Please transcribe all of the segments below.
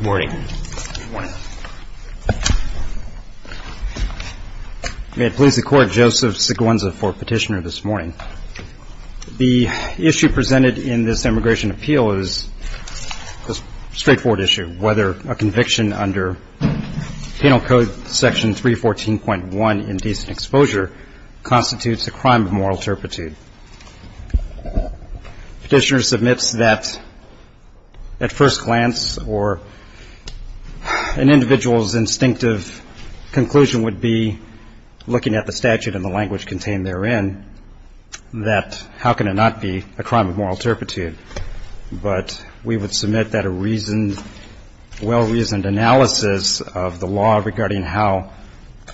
May it please the Court, Joseph Siguenza for Petitioner this morning. The issue presented in this Immigration Appeal is a straightforward issue, whether a conviction under Penal Code Section 314.1, Indecent Exposure, constitutes a crime of moral turpitude. Petitioner submits that at first glance or an individual's instinctive conclusion would be, looking at the statute and the language contained therein, that how can it not be a crime of moral turpitude? But we would submit that a well-reasoned analysis of the law regarding how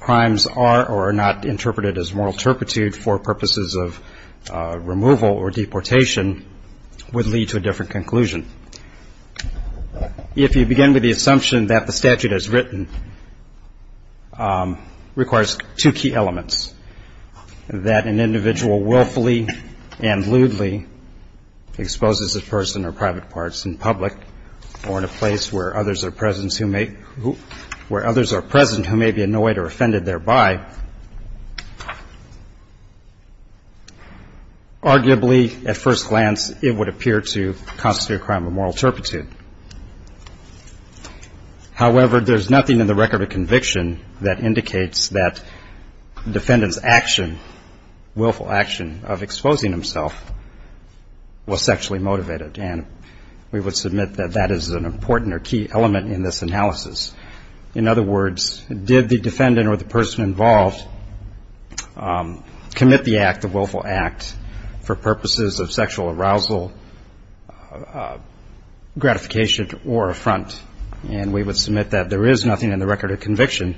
crimes are or are not interpreted as moral turpitude for purposes of removal or deportation would lead to a different conclusion. If you begin with the assumption that the statute as written requires two key elements, that an individual willfully and lewdly exposes a person or private parts in public or in private, arguably, at first glance, it would appear to constitute a crime of moral turpitude. However, there's nothing in the record of conviction that indicates that defendant's action, willful action of exposing himself, was sexually motivated. And we would submit that that is an important or key element in this analysis. In other words, did the defendant or the person involved commit the act, the willful act, for purposes of sexual arousal, gratification, or affront? And we would submit that there is nothing in the record of conviction,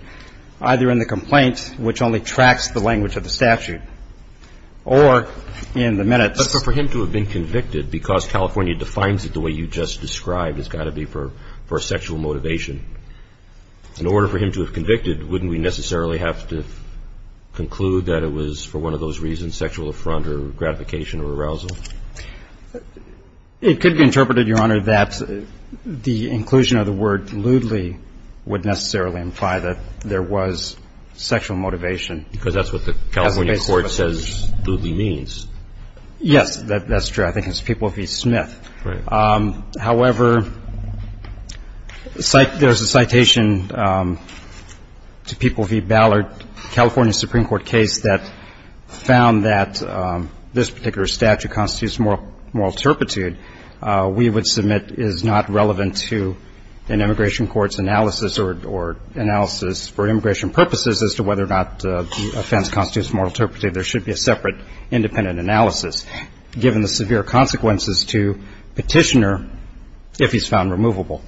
either in the complaint, which only tracks the language of the statute, or in the minutes. But for him to have been convicted because California defines it the way you just described, it's got to be for sexual motivation. In order for him to have convicted, wouldn't we necessarily have to conclude that it was, for one of those reasons, sexual affront or gratification or arousal? It could be interpreted, Your Honor, that the inclusion of the word lewdly would necessarily imply that there was sexual motivation. Because that's what the California court says lewdly means. Yes, that's true. I think it's People v. Smith. Right. However, there's a citation to People v. Ballard, California Supreme Court case, that found that this particular statute constitutes moral turpitude. We would submit is not relevant to an immigration court's analysis or analysis for immigration purposes as to whether or Given the severe consequences to petitioner, if he's found removable.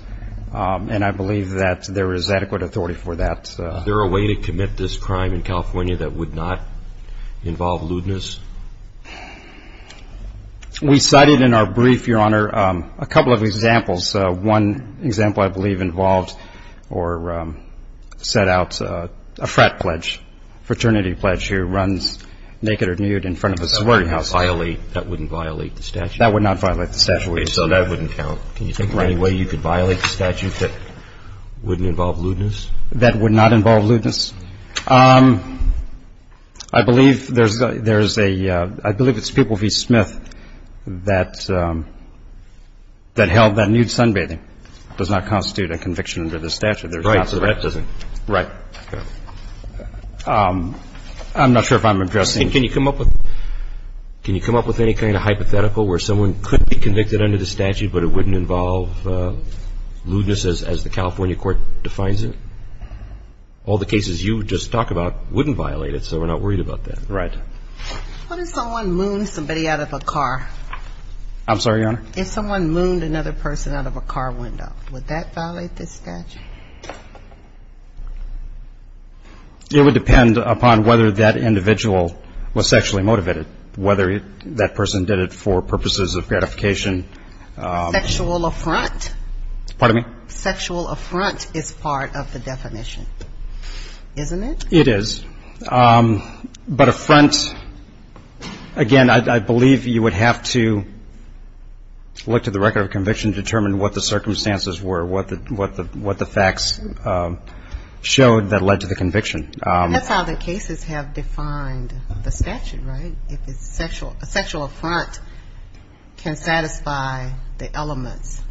And I believe that there is adequate authority for that. Is there a way to commit this crime in California that would not involve lewdness? We cited in our brief, Your Honor, a couple of examples. One example, I believe, involved or set out a frat pledge, fraternity pledge, who runs naked or nude in front of a salaried house. That wouldn't violate the statute? That would not violate the statute. So that wouldn't count. Can you think of any way you could violate the statute that wouldn't involve lewdness? That would not involve lewdness? I believe there's a – I believe it's People v. Smith that held that nude sunbathing does not constitute a conviction under the statute. Right. So the Rett doesn't. Right. I'm not sure if I'm addressing – Can you come up with – can you come up with any kind of hypothetical where someone could be convicted under the statute, but it wouldn't involve lewdness as the California court defines it? All the cases you just talk about wouldn't violate it, so we're not worried about that. Right. What if someone mooned somebody out of a car? I'm sorry, Your Honor? If someone mooned another person out of a car window, would that violate this statute? It would depend upon whether that individual was sexually motivated, whether that person did it for purposes of gratification. Sexual affront? Pardon me? Sexual affront is part of the definition, isn't it? It is. But affront – again, I believe you would have to look to the record of conviction to determine what the circumstances were, what the facts showed that led to the conviction. That's how the cases have defined the statute, right? If it's sexual – a sexual affront can satisfy the elements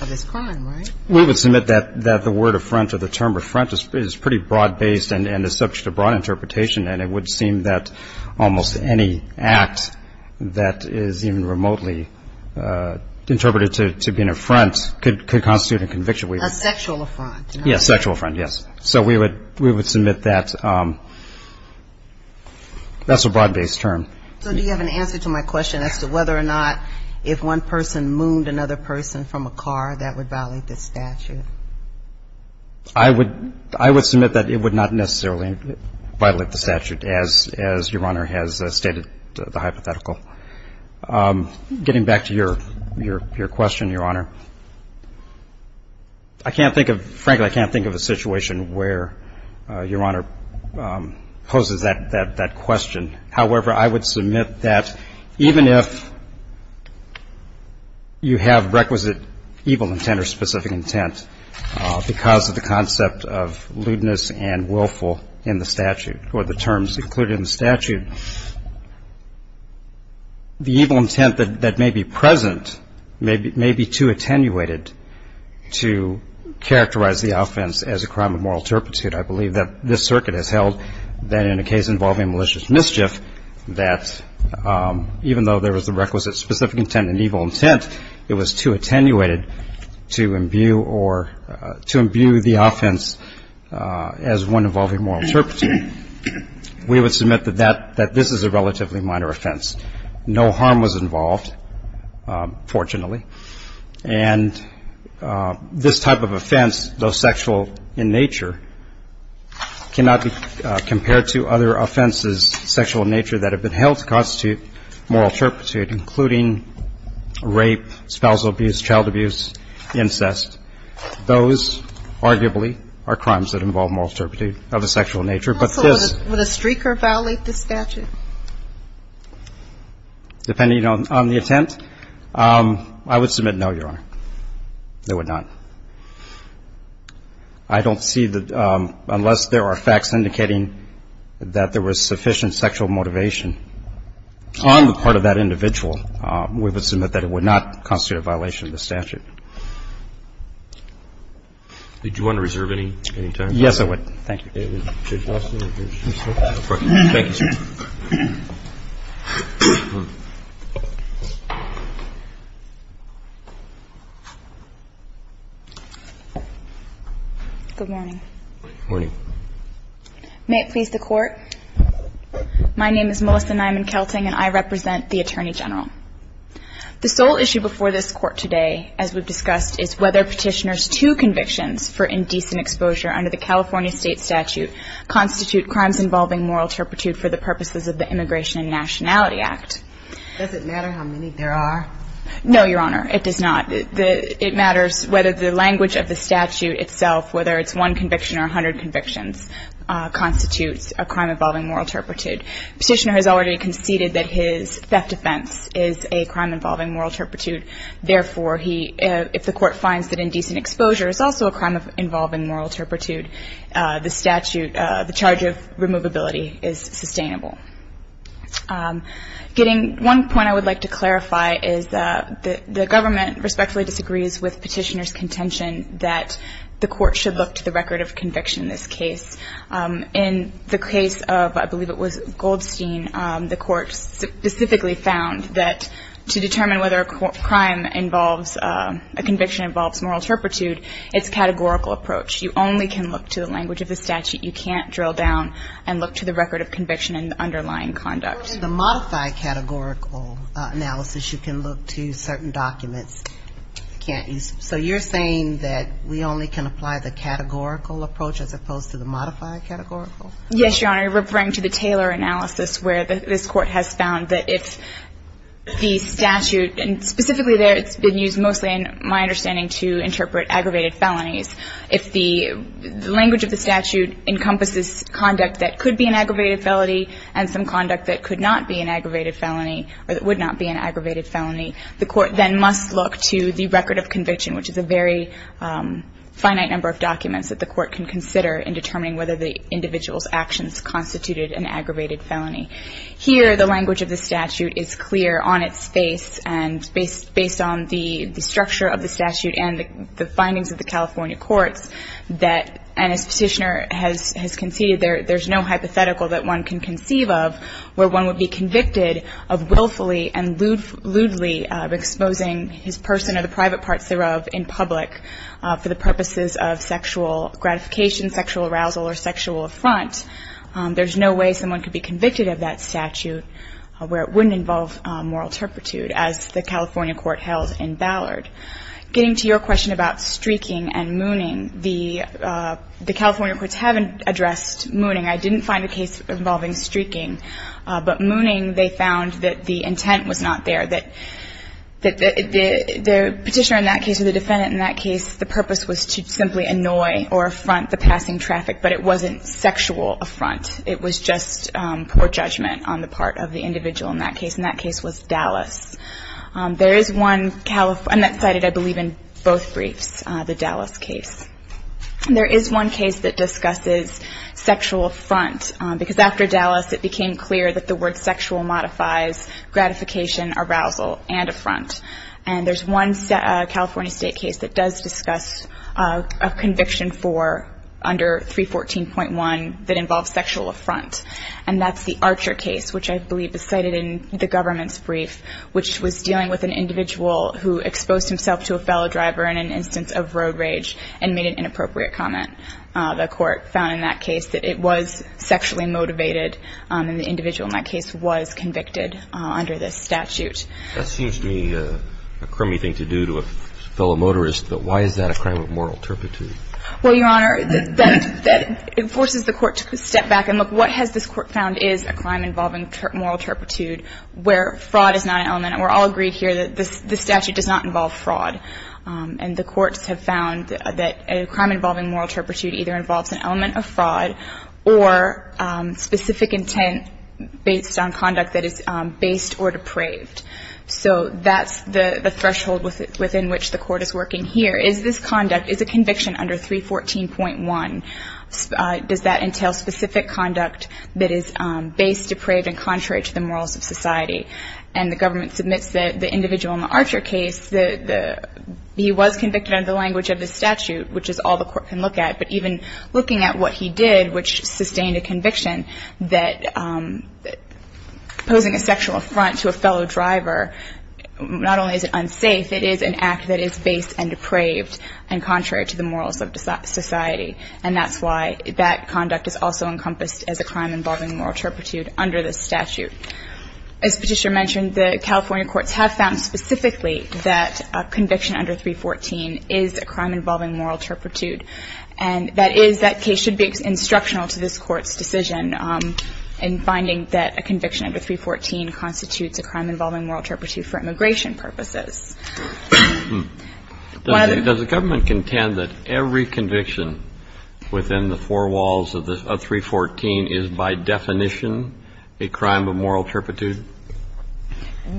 of this crime, right? We would submit that the word affront or the term affront is pretty broad-based and is subject to broad interpretation, and it would seem that almost any act that is even remotely interpreted to be an affront could constitute a conviction. A sexual affront. Yes, a sexual affront, yes. So we would submit that that's a broad-based term. So do you have an answer to my question as to whether or not if one person mooned another person from a car, that would violate this statute? I would submit that it would not necessarily violate the statute, as Your Honor has stated the hypothetical. Getting back to your question, Your Honor, I can't think of – frankly, I can't think of a situation where Your Honor poses that question. However, I would submit that even if you have requisite evil intent or specific intent because of the concept of lewdness and willful in the statute or the terms included in the statute, the evil intent that may be present may be too attenuated to characterize the offense as a crime of moral turpitude. I believe that this circuit has held that in a case involving malicious mischief, that even though there was a requisite specific intent and evil intent, it was too attenuated to imbue or – to imbue the offense as one involving moral turpitude, we would submit that that – that this is a relatively minor offense. No harm was involved, fortunately. And this type of offense, though sexual in nature, cannot be compared to other offenses sexual in nature that have been held to constitute moral turpitude, including rape, spousal abuse, child abuse, incest. Those, arguably, are crimes that involve moral turpitude of a sexual nature, but this – Also, would a streaker violate the statute? Depending on the attempt, I would submit no, Your Honor. They would not. I don't see that – unless there are facts indicating that there was sufficient sexual motivation on the part of that individual, we would submit that it would not constitute a violation of the statute. Did you want to reserve any time? Yes, I would. Thank you. Thank you, sir. Good morning. Morning. May it please the Court? My name is Melissa Nyman-Kelting, and I represent the Attorney General. The sole issue before this Court today, as we've discussed, is whether Petitioner's two convictions for indecent exposure under the California State Statute constitute crimes involving moral turpitude for the purposes of the Immigration and Nationality Act. Does it matter how many there are? No, Your Honor, it does not. It matters whether the language of the statute itself, whether it's one conviction or a hundred convictions, constitutes a crime involving moral turpitude. Petitioner has already conceded that his theft offense is a crime involving moral turpitude. Therefore, if the Court finds that indecent exposure is also a crime involving moral turpitude, the statute – the charge of removability is sustainable. Getting – one point I would like to clarify is that the government respectfully disagrees with Petitioner's contention that the Court should look to the record of conviction in this case. In the case of, I believe it was Goldstein, the Court specifically found that to determine whether a crime involves – a conviction involves moral turpitude, it's a categorical approach. You only can look to the language of the statute. You can't drill down and look to the record of conviction and the underlying conduct. In the modified categorical analysis, you can look to certain documents. You can't use – so you're saying that we only can apply the categorical approach as opposed to the modified categorical? Yes, Your Honor. I'm referring to the Taylor analysis where this Court has found that if the statute – and specifically there it's been used mostly in my understanding to interpret aggravated felonies. If the language of the statute encompasses conduct that could be an aggravated felony and some conduct that could not be an aggravated felony or that would not be an aggravated felony, the Court then must look to the record of conviction, which is a very finite number of documents that the Court can consider in determining whether the individual's actions constituted an aggravated felony. Here, the language of the statute is clear on its face and based on the structure of the statute and the findings of the California courts that – and as Petitioner has conceded, there's no hypothetical that one can conceive of where one would be convicted of willfully and lewdly exposing his person or the private parts thereof in public for the purposes of sexual gratification, sexual arousal or sexual affront. There's no way someone could be convicted of that statute where it wouldn't involve moral turpitude as the California court held in Ballard. Getting to your question about streaking and mooning, the California courts haven't addressed mooning. I didn't find a case involving streaking, but mooning they found that the intent was not there, that the Petitioner in that case or the defendant in that case, the purpose was to simply annoy or affront the passing traffic, but it wasn't sexual affront. It was just poor judgment on the part of the individual in that case, and that case was Dallas. There is one – and that's cited, I believe, in both briefs, the Dallas case. There is one case that discusses sexual affront, because after Dallas it became clear that the word sexual modifies gratification, arousal and affront. And there's one California state case that does discuss a conviction for under 314.1 that involves sexual affront, and that's the Archer case, which I believe is cited in the government's brief, which was dealing with an individual who exposed himself to a fellow driver in an instance of road rage and made an inappropriate comment. The court found in that case that it was sexually motivated, and the individual in that case was convicted under this statute. That seems to me a crummy thing to do to a fellow motorist, but why is that a crime of moral turpitude? Well, Your Honor, that enforces the court to step back and look, what has this crime of moral turpitude, where fraud is not an element. And we're all agreed here that this statute does not involve fraud. And the courts have found that a crime involving moral turpitude either involves an element of fraud or specific intent based on conduct that is based or depraved. So that's the threshold within which the court is working here. Is this conduct – is a conviction under 314.1, does that entail specific conduct that is based, depraved, and contrary to the morals of society? And the government submits the individual in the Archer case. He was convicted under the language of this statute, which is all the court can look at. But even looking at what he did, which sustained a conviction that posing a sexual affront to a fellow driver, not only is it unsafe, it is an act that is based and depraved and contrary to the morals of society. And that's why that conduct is also encompassed as a crime involving moral turpitude under this statute. As Patricia mentioned, the California courts have found specifically that a conviction under 314 is a crime involving moral turpitude. And that is that case should be instructional to this court's decision in finding that a conviction under 314 constitutes a crime involving moral turpitude for immigration purposes. Does the government contend that every conviction within the four walls of 314 is by definition a crime of moral turpitude?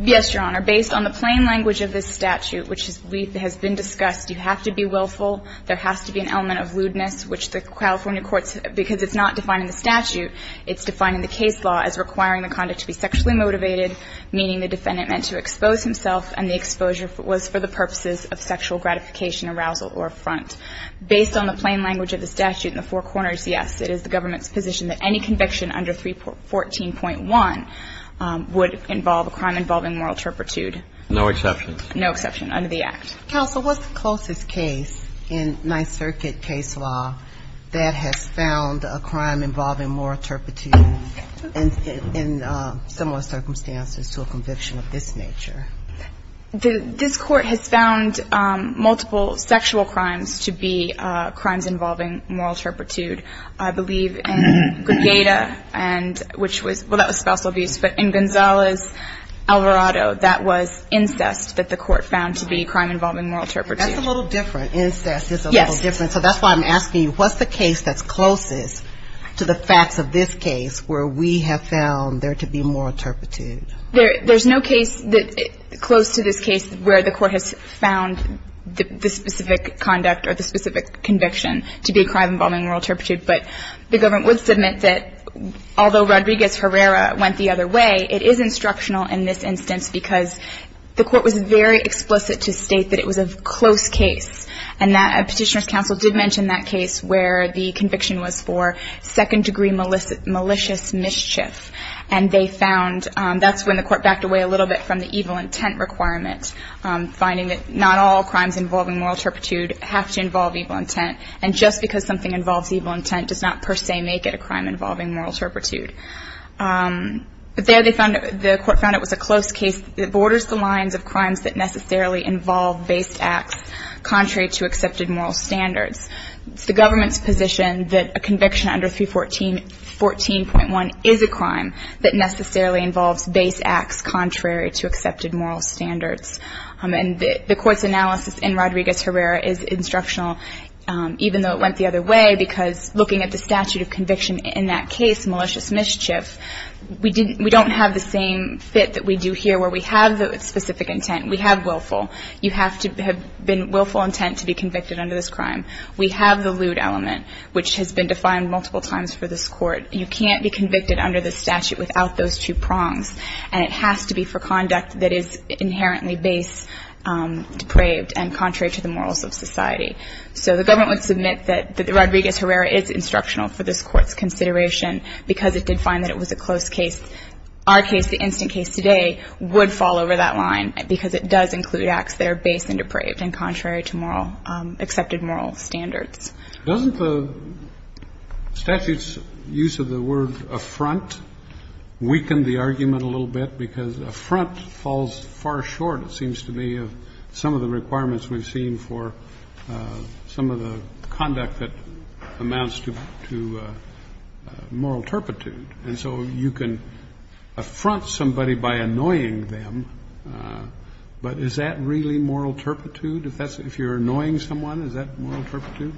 Yes, Your Honor. Based on the plain language of this statute, which has been discussed, you have to be willful. There has to be an element of lewdness, which the California courts – because it's not defined in the statute, it's defined in the case law as requiring the conduct to be sexually motivated, meaning the defendant meant to expose himself and the exposure was for the purposes of sexual gratification, arousal, or affront. Based on the plain language of the statute in the four corners, yes, it is the government's position that any conviction under 314.1 would involve a crime involving moral turpitude. No exceptions? No exceptions under the Act. Counsel, what's the closest case in Ninth Circuit case law that has found a crime involving moral turpitude in similar circumstances to a conviction of this nature? This court has found multiple sexual crimes to be crimes involving moral turpitude. I believe in Gregada, and which was – well, that was spousal abuse. But in Gonzalez-Alvarado, that was incest that the court found to be a crime involving moral turpitude. That's a little different. Incest is a little different. Yes. So that's why I'm asking you, what's the case that's closest to the facts of this case where we have found there to be moral turpitude? There's no case close to this case where the court has found the specific conduct or the specific conviction to be a crime involving moral turpitude. But the government would submit that although Rodriguez-Herrera went the other way, it is instructional in this instance because the court was very explicit to state that it was a close case. And Petitioner's counsel did mention that case where the conviction was for second degree malicious mischief. And they found – that's when the court backed away a little bit from the evil intent requirement, finding that not all crimes involving moral turpitude have to involve evil intent. And just because something involves evil intent does not per se make it a crime involving moral turpitude. But there they found – the court found it was a close case that borders the lines of crimes that necessarily involve based acts contrary to accepted moral standards. And the court's analysis in Rodriguez-Herrera is instructional even though it went the other way because looking at the statute of conviction in that case, malicious mischief, we didn't – we don't have the same fit that we do here where we have the specific intent. We have willful. You have to have been willful intent to be convicted under this crime. We have the lewd element, which has been defined multiple times for this court. You can't be convicted under the statute of willful intent. And it has to be for conduct that is inherently base depraved and contrary to the morals of society. So the government would submit that the Rodriguez-Herrera is instructional for this court's consideration because it did find that it was a close case. Our case, the instant case today, would fall over that line because it does include acts that are base and depraved and contrary to moral – accepted moral standards. Doesn't the statute's use of the word affront weaken the argument a little bit because affront falls far short, it seems to me, of some of the requirements we've seen for some of the conduct that amounts to moral turpitude. And so you can affront somebody by annoying them, but is that really moral turpitude if that's – if you're annoying someone, is that moral turpitude?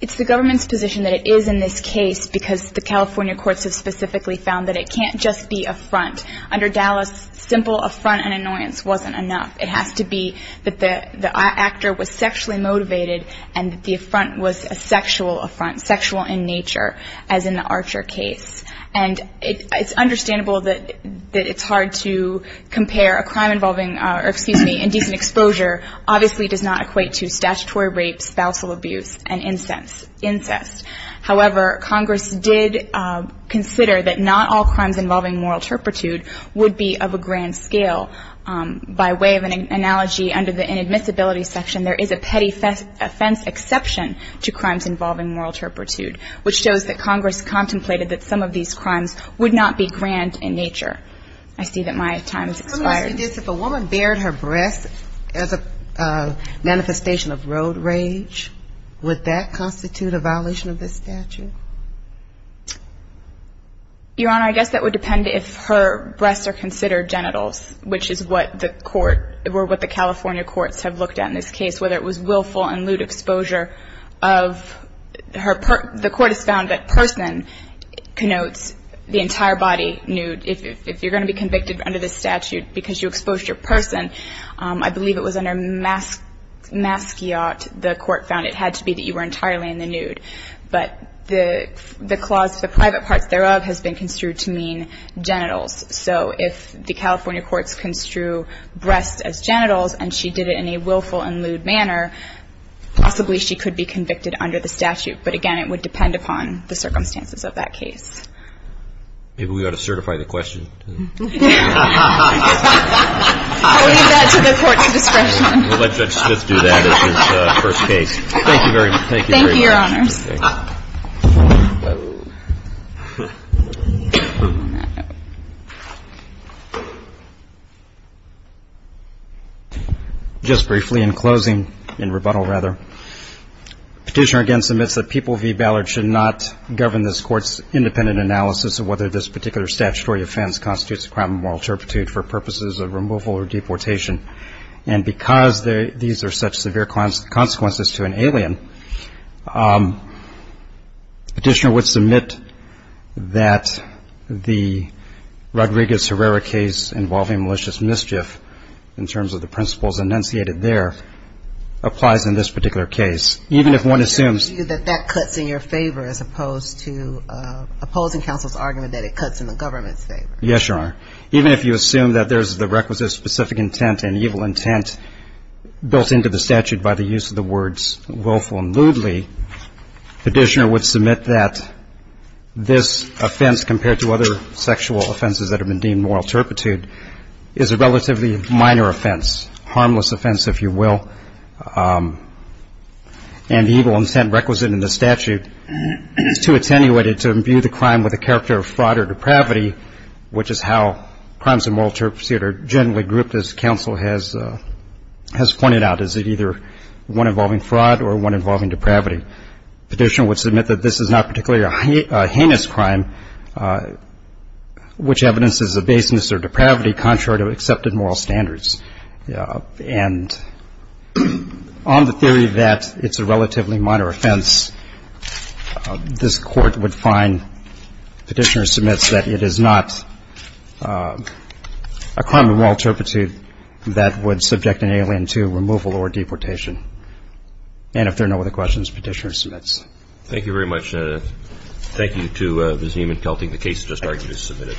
It's the government's position that it is in this case because the California courts have specifically found that it can't just be affront. Under Dallas, simple affront and annoyance wasn't enough. It has to be that the actor was sexually motivated and that the affront was a sexual affront, sexual in nature, as in the Archer case. And it's understandable that it's hard to compare a crime involving – or excuse me, indecent exposure obviously does not equate to statutory rape, spousal abuse, and incest. However, Congress did consider that not all crimes involving moral turpitude would be of a grand scale. By way of an analogy, under the inadmissibility section, there is a petty offense exception to crimes involving moral turpitude, which shows that Congress contemplated that some of these crimes would not be grand in nature. I see that my time has expired. If a woman bared her breasts as a manifestation of road rage, would that constitute a violation of this statute? Your Honor, I guess that would depend if her breasts are considered genitals, which is what the court – or what the California courts have looked at in this case, whether it was willful and lewd exposure of her – the court has found that person connotes the entire body nude. If you're going to be convicted under this statute because you exposed your person, I believe it was under masquiot, the court found it had to be that you were entirely in the nude. But the clause, the private parts thereof, has been construed to mean genitals. So if the California courts construed breasts as genitals and she did it in a willful and lewd manner, possibly she could be convicted under the statute. But again, it would depend upon the circumstances of that case. Maybe we ought to certify the question. I'll leave that to the court's discretion. We'll let Judge Smith do that as his first case. Thank you very much. Thank you, Your Honors. Just briefly, in closing, in rebuttal rather, the Petitioner again submits that People v. Ballard should not govern this Court's independent analysis of whether this particular statutory offense constitutes a crime of moral turpitude for purposes of removal or deportation. And because these are such severe consequences to an alien, the Petitioner would submit that the Rodriguez-Herrera case involving malicious mischief, in terms of the principles enunciated there, applies in this particular case. Even if one assumes that that cuts in your favor as opposed to opposing counsel's argument that it cuts in the government's favor. Yes, Your Honor. Even if you assume that there's the requisite specific intent and evil intent built into the statute by the use of the words willful and lewdly, the Petitioner would submit that this offense, compared to other sexual offenses that have been deemed moral turpitude, is a relatively minor offense, harmless offense, if you will. And the evil intent requisite in the statute is too attenuated to imbue the crime with a character of fraud or depravity, which is how crimes of moral turpitude are generally grouped, as counsel has pointed out, as either one involving fraud or one involving depravity. The Petitioner would submit that this is not particularly a heinous crime, which evidences a baseness or depravity contrary to accepted moral standards. And on the theory that it's a relatively minor offense, this Court would find Petitioner submits that it is not a crime of moral turpitude that would subject an alien to removal or deportation. And if there are no other questions, Petitioner submits. Thank you very much. Thank you to Ms. Nieman-Kelty. The case has just argued is submitted.